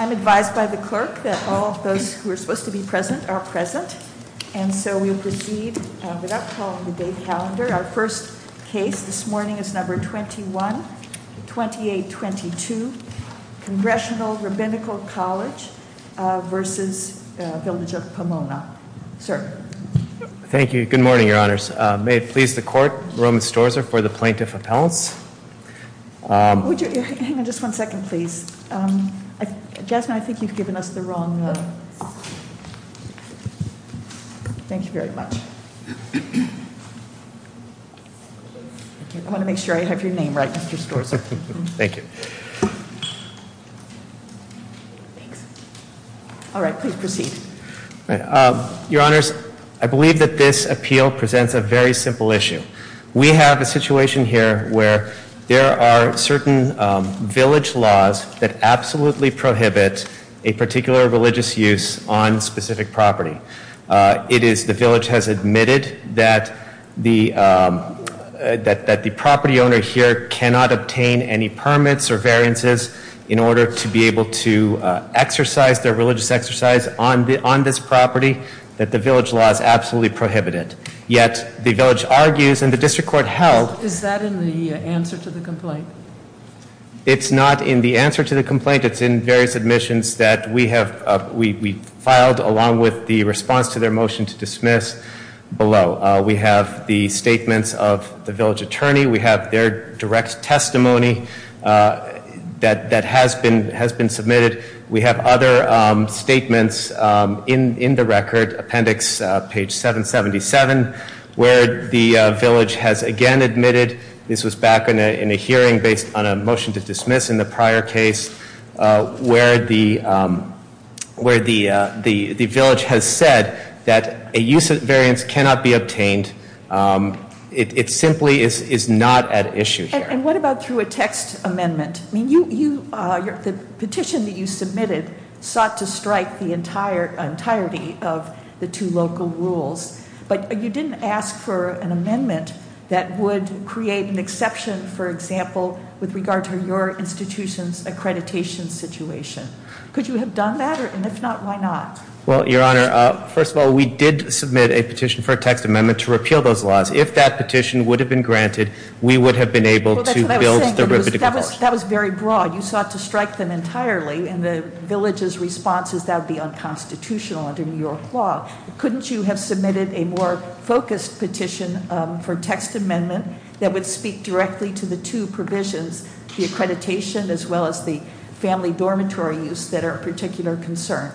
I'm advised by the clerk that all of those who are supposed to be present are present. And so we'll proceed without calling the day calendar. Our first case this morning is number 21 28 22 Congressional Rabbinical College versus Village of Pomona. Thank you. Good morning, your honors. May it please the court. Roman stores are for the plaintiff appellants. Just one second, please. Jasmine, I think you've given us the wrong. Thank you very much. I want to make sure I have your name right. Thank you. All right. Please proceed. Your honors. I believe that this appeal presents a very simple issue. We have a situation here where there are certain village laws that absolutely prohibit a particular religious use on specific property. It is the village has admitted that the that that the property owner here cannot obtain any permits or variances in order to be able to exercise their religious exercise on the on this property that the village laws absolutely prohibited. Yet the village argues in the district court held. Is that in the answer to the complaint? It's not in the answer to the complaint. It's in various admissions that we have. We filed along with the response to their motion to dismiss below. We have the statements of the village attorney. We have their direct testimony that that has been has been submitted. We have other statements in in the record appendix page 777 where the village has again admitted. This was back in a hearing based on a motion to dismiss in the prior case where the where the the the village has said that a use of variance cannot be obtained. It simply is not at issue. And what about through a text amendment? I mean, you are the petition that you submitted sought to strike the entire entirety of the two local rules. But you didn't ask for an amendment that would create an exception, for example, with regard to your institution's accreditation situation. Could you have done that? And if not, why not? Well, Your Honor, first of all, we did submit a petition for a text amendment to repeal those laws. If that petition would have been granted, we would have been able to build. That was very broad. You sought to strike them entirely. And the village's response is that would be unconstitutional under New York law. Couldn't you have submitted a more focused petition for text amendment that would speak directly to the two provisions, the accreditation as well as the family dormitory use that are of particular concern?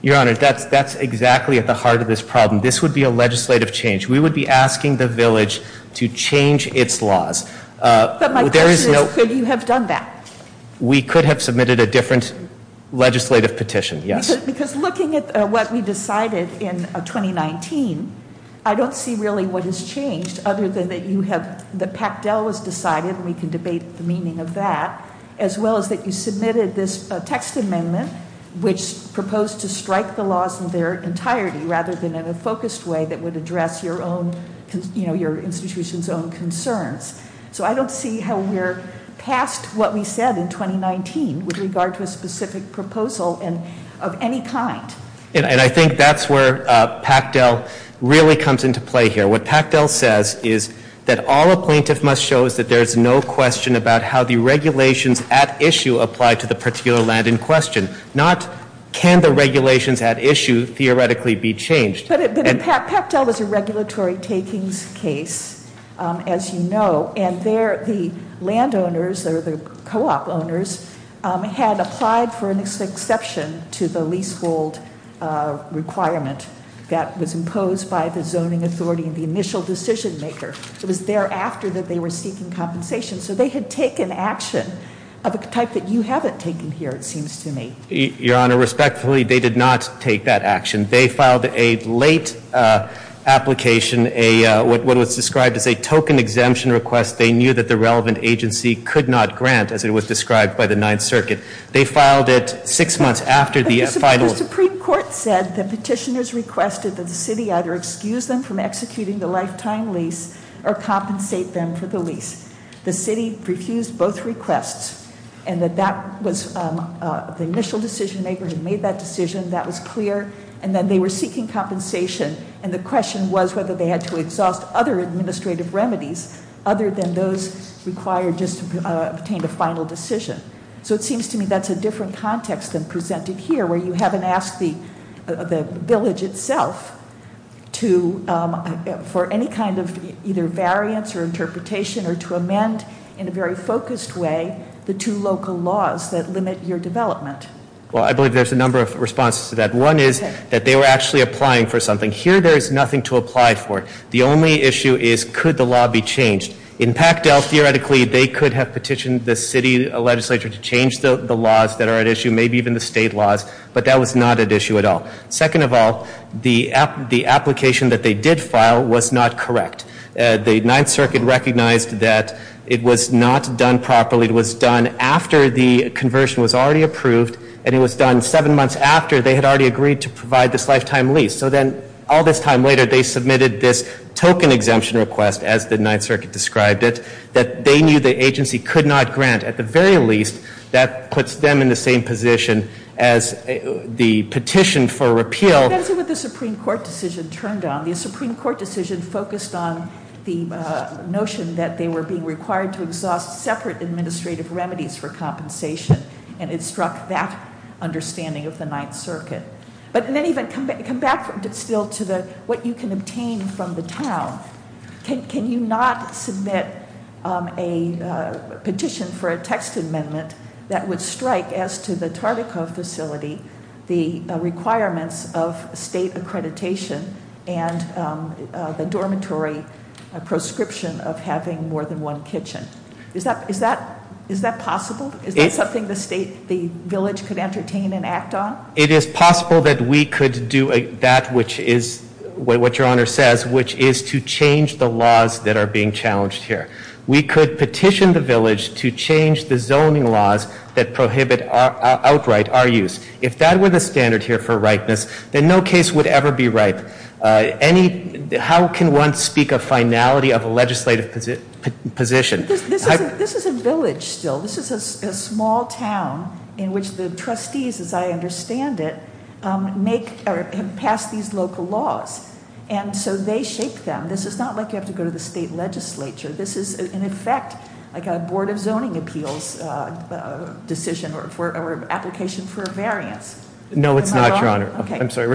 Your Honor, that's that's exactly at the heart of this problem. This would be a legislative change. We would be asking the village to change its laws. But my question is, could you have done that? We could have submitted a different legislative petition. Yes. Because looking at what we decided in 2019, I don't see really what has changed other than that you have, that Pactel was decided and we can debate the meaning of that, as well as that you submitted this text amendment, which proposed to strike the laws in their entirety rather than in a focused way that would address your own, you know, your institution's own concerns. So I don't see how we're past what we said in 2019 with regard to a specific proposal and of any kind. And I think that's where Pactel really comes into play here. What Pactel says is that all a plaintiff must show is that there is no question about how the regulations at issue apply to the particular land in question. Not can the regulations at issue theoretically be changed. But Pactel was a regulatory takings case, as you know, and there the landowners or the co-op owners had applied for an exception to the leasehold requirement that was imposed by the zoning authority and the initial decision maker. It was thereafter that they were seeking compensation. So they had taken action of a type that you haven't taken here, it seems to me. Your Honor, respectfully, they did not take that action. They filed a late application, what was described as a token exemption request. They knew that the relevant agency could not grant, as it was described by the Ninth Circuit. They filed it six months after the final. The Supreme Court said the petitioners requested that the city either excuse them from executing the lifetime lease or compensate them for the lease. The city refused both requests and that that was the initial decision maker who made that decision. That was clear. And then they were seeking compensation. And the question was whether they had to exhaust other administrative remedies other than those required just to obtain the final decision. So it seems to me that's a different context than presented here where you haven't asked the village itself to, for any kind of either variance or interpretation or to amend in a very focused way the two local laws that limit your development. Well, I believe there's a number of responses to that. One is that they were actually applying for something. Here there is nothing to apply for. The only issue is could the law be changed. In Pactel, theoretically, they could have petitioned the city legislature to change the laws that are at issue, maybe even the state laws, but that was not at issue at all. Second of all, the application that they did file was not correct. The Ninth Circuit recognized that it was not done properly. It was done after the conversion was already approved, and it was done seven months after they had already agreed to provide this lifetime lease. So then all this time later they submitted this token exemption request, as the Ninth Circuit described it, that they knew the agency could not grant. At the very least, that puts them in the same position as the petition for repeal. That's what the Supreme Court decision turned on. The Supreme Court decision focused on the notion that they were being required to exhaust separate administrative remedies for compensation, and it struck that understanding of the Ninth Circuit. But then even come back still to what you can obtain from the town. Can you not submit a petition for a text amendment that would strike, as to the Tardico facility, the requirements of state accreditation and the dormitory prescription of having more than one kitchen? Is that possible? Is that something the state, the village could entertain and act on? It is possible that we could do that, which is what your Honor says, which is to change the laws that are being challenged here. We could petition the village to change the zoning laws that prohibit outright our use. If that were the standard here for ripeness, then no case would ever be ripe. How can one speak of finality of a legislative position? This is a village still. This is a small town in which the trustees, as I understand it, have passed these local laws. And so they shape them. This is not like you have to go to the state legislature. This is, in effect, like a Board of Zoning Appeals decision or application for a variance. No, it's not, Your Honor. I'm sorry.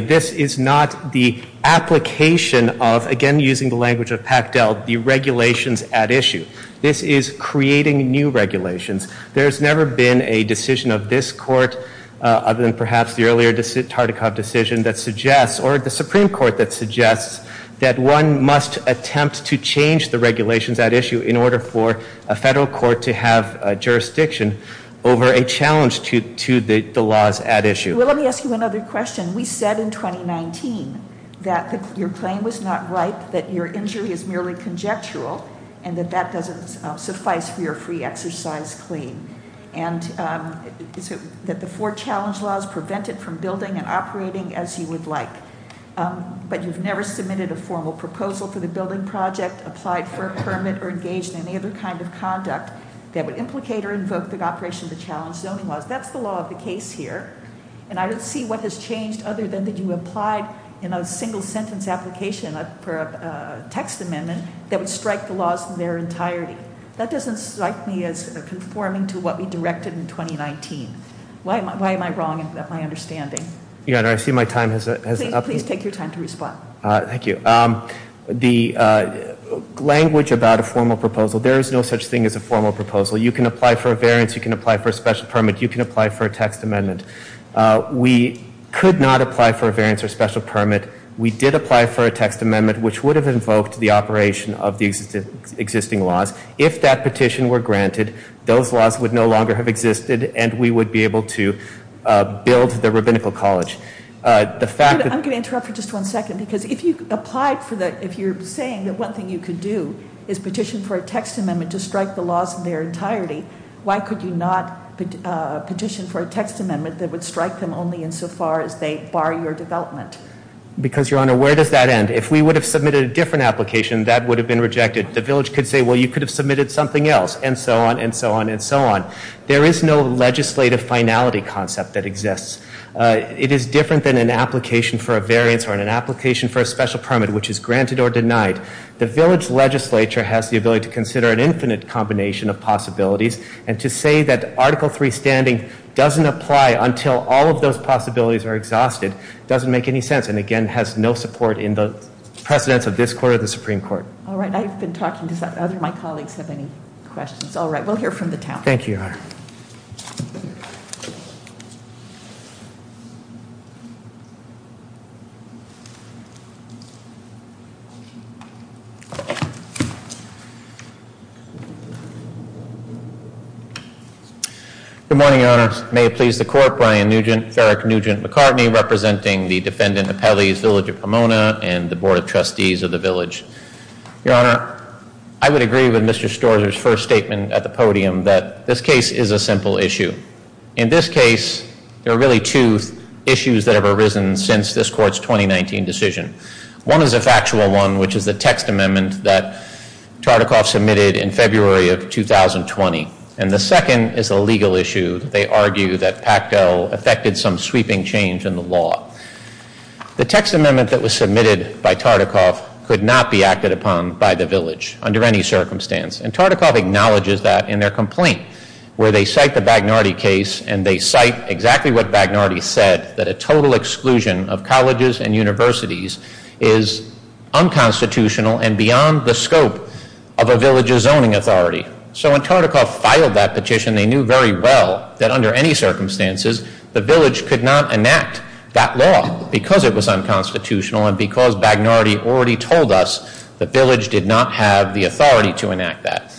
This is not the application of, again using the language of Pactel, the regulations at issue. This is creating new regulations. There's never been a decision of this court other than perhaps the earlier Tardikov decision that suggests, or the Supreme Court that suggests, that one must attempt to change the regulations at issue in order for a federal court to have jurisdiction over a challenge to the laws at issue. Let me ask you another question. We said in 2019 that your claim was not ripe, that your injury is merely conjectural, and that that doesn't suffice for your free exercise claim, and that the four challenge laws prevent it from building and operating as you would like. But you've never submitted a formal proposal for the building project, applied for a permit, or engaged in any other kind of conduct that would implicate or invoke the operation of the challenge zoning laws. That's the law of the case here. And I don't see what has changed other than that you applied in a single-sentence application for a text amendment that would strike the laws in their entirety. That doesn't strike me as conforming to what we directed in 2019. Why am I wrong in my understanding? Your Honor, I see my time has up. Please take your time to respond. Thank you. The language about a formal proposal, there is no such thing as a formal proposal. You can apply for a variance. You can apply for a special permit. You can apply for a text amendment. We could not apply for a variance or special permit. We did apply for a text amendment, which would have invoked the operation of the existing laws. If that petition were granted, those laws would no longer have existed, and we would be able to build the rabbinical college. The fact that- I'm going to interrupt for just one second, because if you applied for the- if you're saying that one thing you could do is petition for a text amendment to strike the laws in their entirety, why could you not petition for a text amendment that would strike them only insofar as they bar your development? Because, Your Honor, where does that end? If we would have submitted a different application, that would have been rejected. The village could say, well, you could have submitted something else, and so on and so on and so on. There is no legislative finality concept that exists. It is different than an application for a variance or an application for a special permit, which is granted or denied. The village legislature has the ability to consider an infinite combination of possibilities, and to say that Article III standing doesn't apply until all of those possibilities are exhausted doesn't make any sense, and, again, has no support in the precedence of this court or the Supreme Court. All right. I've been talking. Do my colleagues have any questions? All right. We'll hear from the town. Thank you, Your Honor. Good morning, Your Honor. May it please the court, Brian Nugent, Farrick Nugent McCartney, representing the defendant of Pelley's Village of Pomona and the Board of Trustees of the village. Your Honor, I would agree with Mr. Storzer's first statement at the podium that this case is a simple issue. In this case, there are really two issues that have arisen since this court's 2019 decision. One is a factual one, which is the text amendment that Tartikoff submitted in February of 2020, and the second is a legal issue. They argue that Pacto affected some sweeping change in the law. The text amendment that was submitted by Tartikoff could not be acted upon by the village under any circumstance, and Tartikoff acknowledges that in their complaint, where they cite the Bagnardi case, and they cite exactly what Bagnardi said, that a total exclusion of colleges and universities is unconstitutional and beyond the scope of a village's zoning authority. So when Tartikoff filed that petition, they knew very well that under any circumstances, the village could not enact that law because it was unconstitutional and because Bagnardi already told us the village did not have the authority to enact that.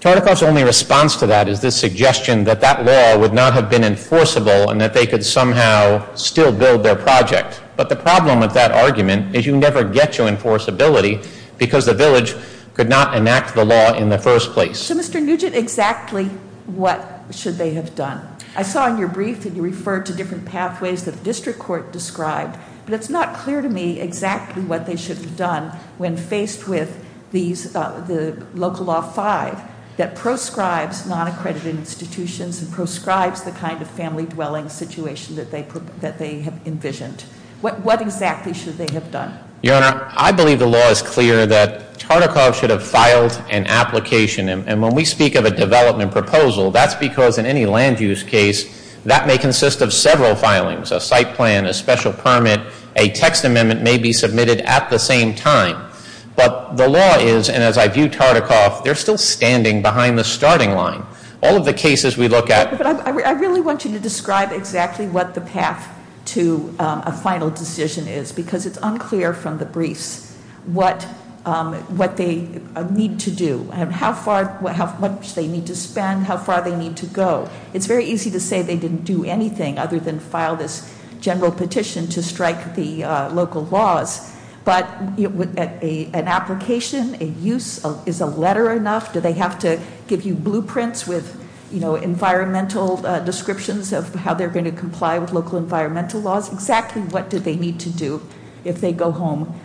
Tartikoff's only response to that is this suggestion that that law would not have been enforceable and that they could somehow still build their project. But the problem with that argument is you never get your enforceability because the village could not enact the law in the first place. So, Mr. Nugent, exactly what should they have done? I saw in your brief that you referred to different pathways that the district court described, but it's not clear to me exactly what they should have done when faced with the local law 5 that proscribes non-accredited institutions and proscribes the kind of family dwelling situation that they have envisioned. What exactly should they have done? Your Honor, I believe the law is clear that Tartikoff should have filed an application, and when we speak of a development proposal, that's because in any land use case, that may consist of several filings, a site plan, a special permit, a text amendment may be submitted at the same time. But the law is, and as I view Tartikoff, they're still standing behind the starting line. All of the cases we look at... But I really want you to describe exactly what the path to a final decision is because it's unclear from the briefs what they need to do and how much they need to spend, how far they need to go. It's very easy to say they didn't do anything other than file this general petition to strike the local laws. But an application, a use, is a letter enough? Do they have to give you blueprints with environmental descriptions of how they're going to comply with local environmental laws? Exactly what do they need to do if they go home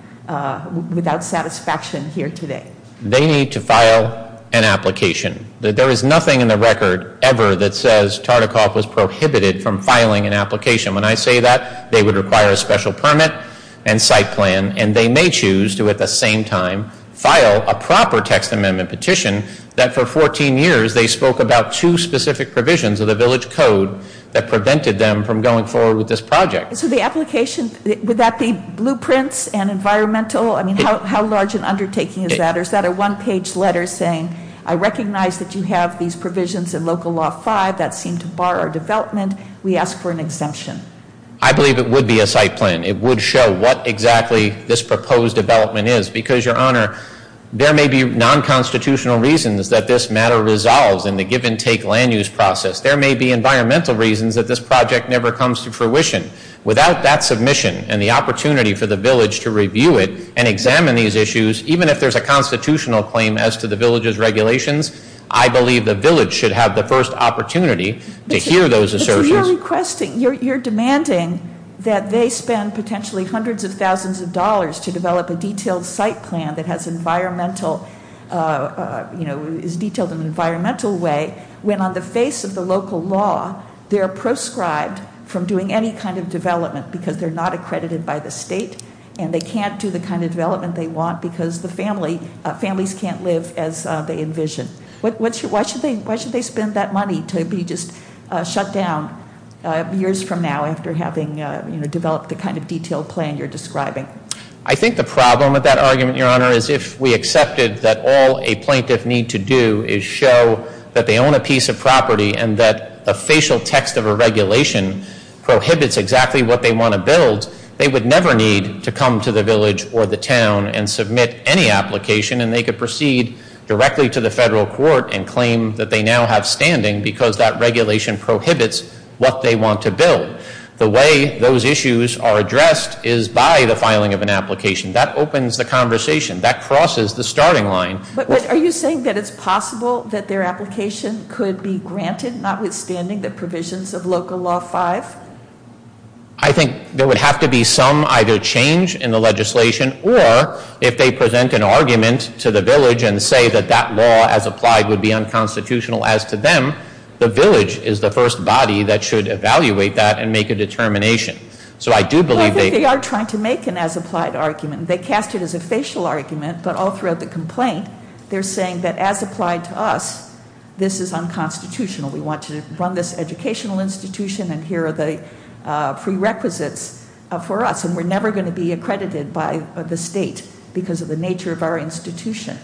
without satisfaction here today? They need to file an application. There is nothing in the record ever that says Tartikoff was prohibited from filing an application. When I say that, they would require a special permit and site plan, and they may choose to at the same time file a proper text amendment petition that for 14 years they spoke about two specific provisions of the village code that prevented them from going forward with this project. So the application, would that be blueprints and environmental? I mean, how large an undertaking is that? Is that a one-page letter saying, I recognize that you have these provisions in Local Law 5 that seem to bar our development. We ask for an exemption. I believe it would be a site plan. It would show what exactly this proposed development is because, Your Honor, there may be non-constitutional reasons that this matter resolves in the give-and-take land use process. There may be environmental reasons that this project never comes to fruition. Without that submission and the opportunity for the village to review it and examine these issues, even if there's a constitutional claim as to the village's regulations, I believe the village should have the first opportunity to hear those assertions. You're demanding that they spend potentially hundreds of thousands of dollars to develop a detailed site plan that is detailed in an environmental way when, on the face of the local law, they're proscribed from doing any kind of development because they're not accredited by the state and they can't do the kind of development they want because the families can't live as they envision. Why should they spend that money to be just shut down years from now after having developed the kind of detailed plan you're describing? I think the problem with that argument, Your Honor, is if we accepted that all a plaintiff needs to do is show that they own a piece of property and that the facial text of a regulation prohibits exactly what they want to build, they would never need to come to the village or the town and submit any application and they could proceed directly to the federal court and claim that they now have standing because that regulation prohibits what they want to build. The way those issues are addressed is by the filing of an application. That opens the conversation. That crosses the starting line. But are you saying that it's possible that their application could be granted, notwithstanding the provisions of Local Law 5? I think there would have to be some either change in the legislation or if they present an argument to the village and say that that law as applied would be unconstitutional as to them, the village is the first body that should evaluate that and make a determination. So I do believe they are trying to make an as-applied argument. They cast it as a facial argument, but all throughout the complaint, they're saying that as applied to us, this is unconstitutional. We want to run this educational institution and here are the prerequisites for us and we're never going to be accredited by the state because of the nature of our institution.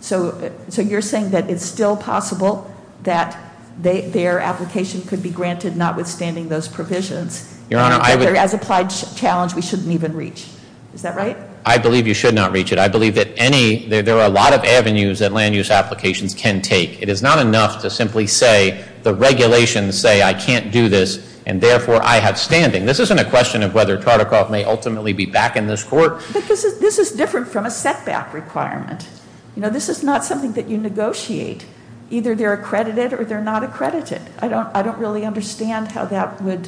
So you're saying that it's still possible that their application could be granted, notwithstanding those provisions. Your Honor, I would. As applied challenge, we shouldn't even reach. Is that right? I believe you should not reach it. I believe that there are a lot of avenues that land use applications can take. It is not enough to simply say the regulations say I can't do this and therefore I have standing. This isn't a question of whether Tartikoff may ultimately be back in this court. But this is different from a setback requirement. You know, this is not something that you negotiate. Either they're accredited or they're not accredited. I don't really understand how that would,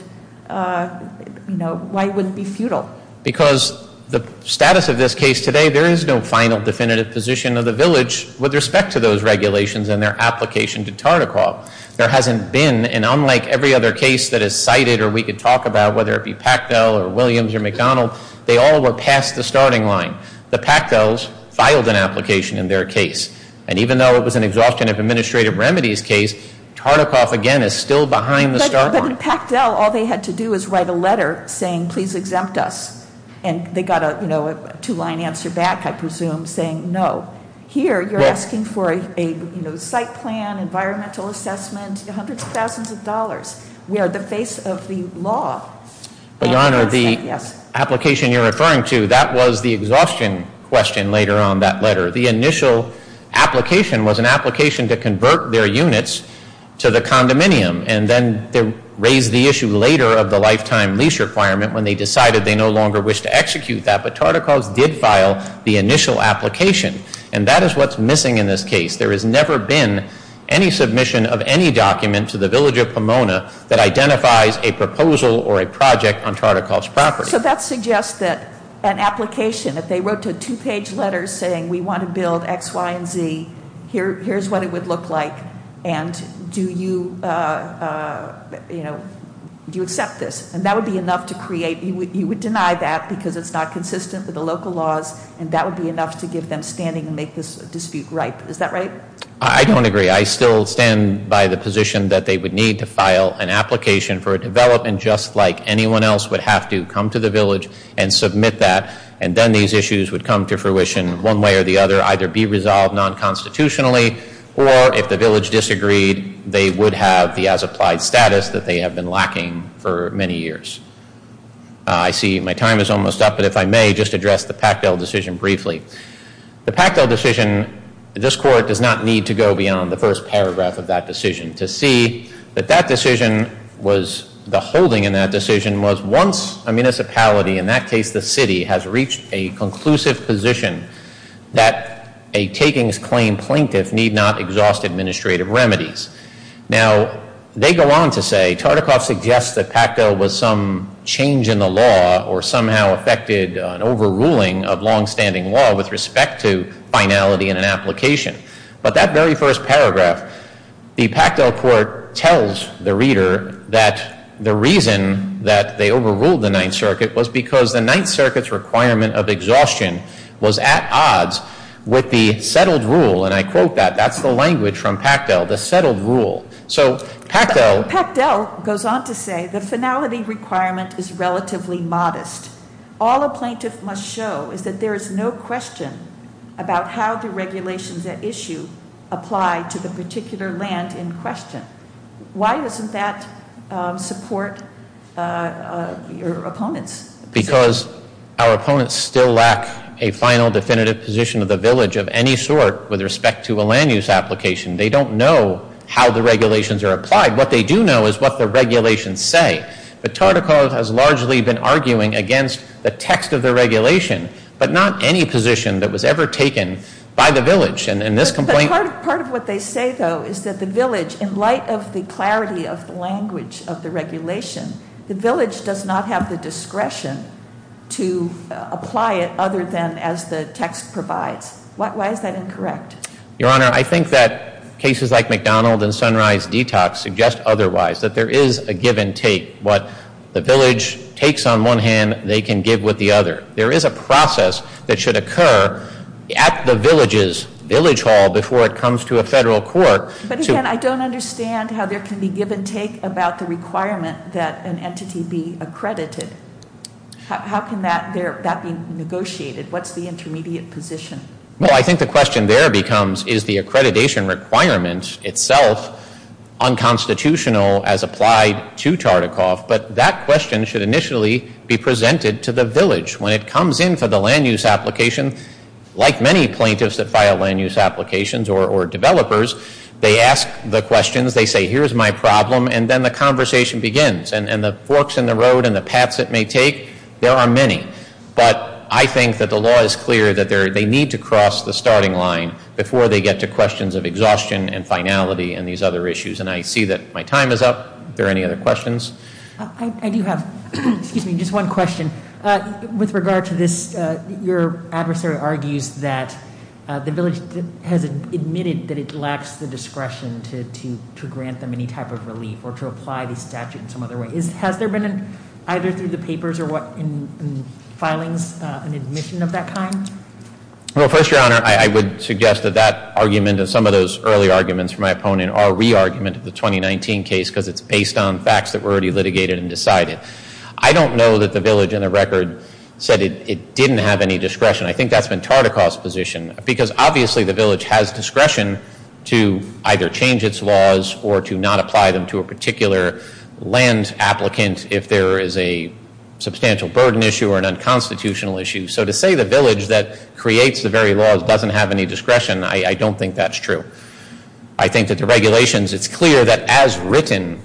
you know, why it wouldn't be futile. Because the status of this case today, there is no final definitive position of the village with respect to those regulations and their application to Tartikoff. There hasn't been, and unlike every other case that is cited or we could talk about, whether it be Pactel or Williams or McDonald, they all were past the starting line. The Pactels filed an application in their case. And even though it was an exhaustion of administrative remedies case, Tartikoff, again, is still behind the starting line. But in Pactel, all they had to do was write a letter saying please exempt us. And they got a, you know, a two-line answer back, I presume, saying no. Here you're asking for a, you know, site plan, environmental assessment, hundreds of thousands of dollars. We are the face of the law. Your Honor, the application you're referring to, that was the exhaustion question later on that letter. The initial application was an application to convert their units to the condominium. And then they raised the issue later of the lifetime lease requirement when they decided they no longer wished to execute that. But Tartikoff did file the initial application. And that is what's missing in this case. There has never been any submission of any document to the village of Pomona that identifies a proposal or a project on Tartikoff's property. So that suggests that an application, if they wrote a two-page letter saying we want to build X, Y, and Z, here's what it would look like. And do you, you know, do you accept this? And that would be enough to create, you would deny that because it's not consistent with the local laws. And that would be enough to give them standing and make this dispute ripe. Is that right? I don't agree. I still stand by the position that they would need to file an application for a development just like anyone else would have to come to the village and submit that. And then these issues would come to fruition one way or the other, either be resolved non-constitutionally, or if the village disagreed, they would have the as-applied status that they have been lacking for many years. I see my time is almost up. But if I may, just address the Pactel decision briefly. The Pactel decision, this court does not need to go beyond the first paragraph of that decision to see that that decision was, the holding in that decision was once a municipality, in that case the city, has reached a conclusive position that a takings claim plaintiff need not exhaust administrative remedies. Now, they go on to say Tartikoff suggests that Pactel was some change in the law or somehow affected an overruling of longstanding law with respect to finality in an application. But that very first paragraph, the Pactel court tells the reader that the reason that they overruled the Ninth Circuit was because the Ninth Circuit's requirement of exhaustion was at odds with the settled rule. And I quote that. That's the language from Pactel, the settled rule. So Pactel- Pactel goes on to say the finality requirement is relatively modest. All a plaintiff must show is that there is no question about how the regulations at issue apply to the particular land in question. Why doesn't that support your opponent's position? Because our opponents still lack a final definitive position of the village of any sort with respect to a land use application. They don't know how the regulations are applied. What they do know is what the regulations say. But Tartikoff has largely been arguing against the text of the regulation, but not any position that was ever taken by the village. And in this complaint- But part of what they say, though, is that the village, in light of the clarity of the language of the regulation, the village does not have the discretion to apply it other than as the text provides. Why is that incorrect? Your Honor, I think that cases like McDonald and Sunrise Detox suggest otherwise, that there is a give and take. What the village takes on one hand, they can give with the other. There is a process that should occur at the village's village hall before it comes to a federal court to- But again, I don't understand how there can be give and take about the requirement that an entity be accredited. How can that be negotiated? What's the intermediate position? Well, I think the question there becomes, is the accreditation requirement itself unconstitutional as applied to Tartikoff? But that question should initially be presented to the village. When it comes in for the land use application, like many plaintiffs that file land use applications or developers, they ask the questions, they say, here's my problem, and then the conversation begins. And the forks in the road and the paths it may take, there are many. But I think that the law is clear that they need to cross the starting line before they get to questions of exhaustion and finality and these other issues. And I see that my time is up. Are there any other questions? I do have, excuse me, just one question. With regard to this, your adversary argues that the village has admitted that it lacks the discretion to grant them any type of relief or to apply the statute in some other way. Has there been, either through the papers or what, in filings, an admission of that kind? Well, first, your honor, I would suggest that that argument and some of those early arguments from my opponent are a re-argument of the 2019 case because it's based on facts that were already litigated and decided. I don't know that the village in the record said it didn't have any discretion. I think that's been Tartikoff's position. Because obviously the village has discretion to either change its laws or to not apply them to a particular land applicant if there is a substantial burden issue or an unconstitutional issue. So to say the village that creates the very laws doesn't have any discretion, I don't think that's true. I think that the regulations, it's clear that as written,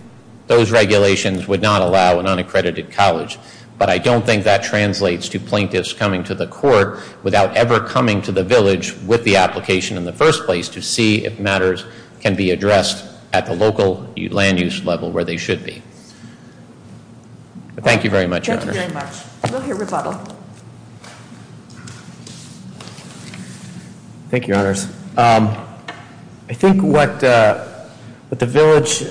those regulations would not allow an unaccredited college. But I don't think that translates to plaintiffs coming to the court without ever coming to the village with the application in the first place to see if matters can be addressed at the local land use level where they should be. Thank you very much, your honor. Thank you very much. We'll hear rebuttal. Thank you, your honors. I think what the village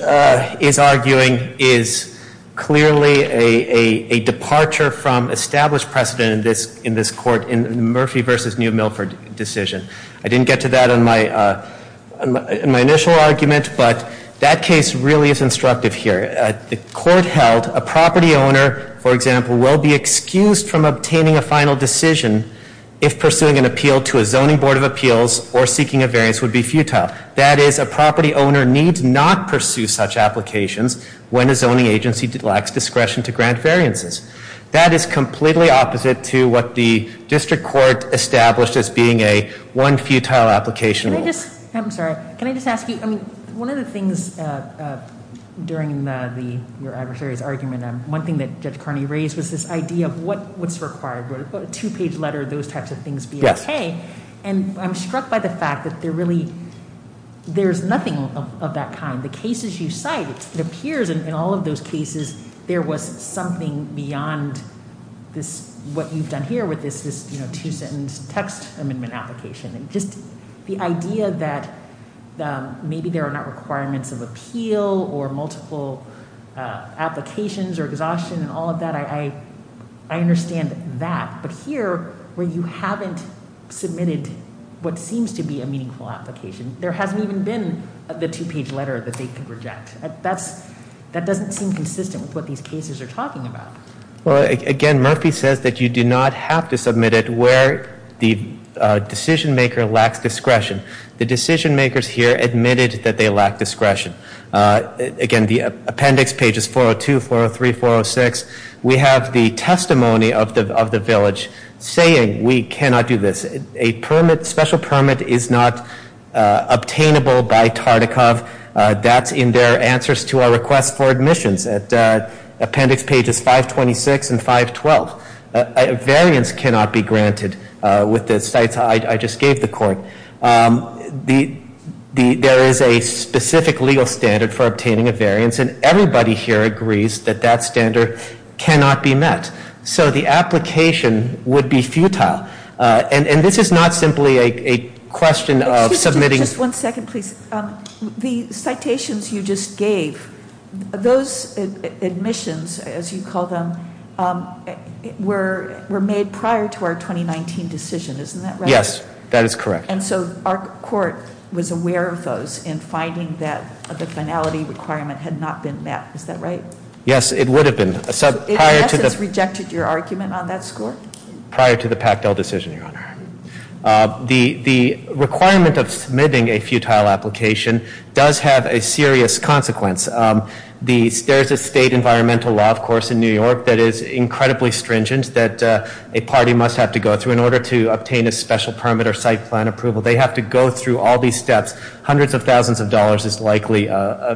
is arguing is clearly a departure from established precedent in this court in Murphy v. New Milford decision. I didn't get to that in my initial argument, but that case really is instructive here. The court held a property owner, for example, will be excused from obtaining a final decision if pursuing an appeal to a zoning board of appeals or seeking a variance would be futile. That is, a property owner needs not pursue such applications when a zoning agency lacks discretion to grant variances. That is completely opposite to what the district court established as being a one futile application rule. I'm sorry. Can I just ask you, I mean, one of the things during your adversary's argument, One thing that Judge Carney raised was this idea of what's required, a two page letter, those types of things being okay. And I'm struck by the fact that there really, there's nothing of that kind. The cases you cite, it appears in all of those cases, there was something beyond this. What you've done here with this, this, you know, two sentence text amendment application and just the idea that maybe there are not requirements of appeal or multiple applications. Or exhaustion and all of that. I understand that. But here where you haven't submitted what seems to be a meaningful application, there hasn't even been the two page letter that they can reject. That's that doesn't seem consistent with what these cases are talking about. Well, again, Murphy says that you do not have to submit it where the decision maker lacks discretion. The decision makers here admitted that they lack discretion. Again, the appendix pages 402, 403, 406. We have the testimony of the village saying we cannot do this. A permit, special permit is not obtainable by TARDACOV. That's in their answers to our request for admissions at appendix pages 526 and 512. Variance cannot be granted with the sites I just gave the court. There is a specific legal standard for obtaining a variance and everybody here agrees that that standard cannot be met. So the application would be futile. And this is not simply a question of submitting. Just one second, please. The citations you just gave, those admissions, as you call them, were were made prior to our 2019 decision. Isn't that right? Yes, that is correct. And so our court was aware of those in finding that the finality requirement had not been met. Is that right? Yes, it would have been. So it has rejected your argument on that score? Prior to the Pactel decision, Your Honor. The requirement of submitting a futile application does have a serious consequence. There is a state environmental law, of course, in New York that is incredibly stringent that a party must have to go through in order to obtain a special permit or site plan approval. They have to go through all these steps. Hundreds of thousands of dollars is likely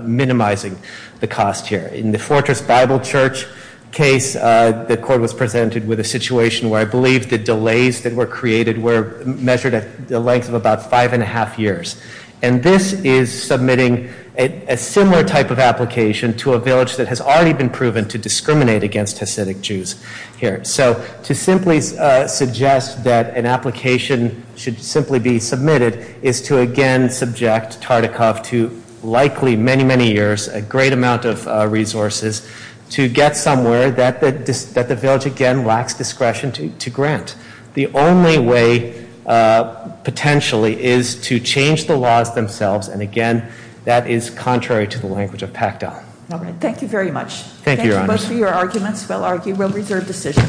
minimizing the cost here. In the Fortress Bible Church case, the court was presented with a situation where I believe the delays that were created were measured at the length of about five and a half years. And this is submitting a similar type of application to a village that has already been proven to discriminate against Hasidic Jews here. So to simply suggest that an application should simply be submitted is to again subject Tartikoff to likely many, many years, a great amount of resources, to get somewhere that the village again lacks discretion to grant. The only way potentially is to change the laws themselves, and again, that is contrary to the language of Pactel. Thank you very much. Thank you, Your Honor. Those are your arguments. We'll reserve decision.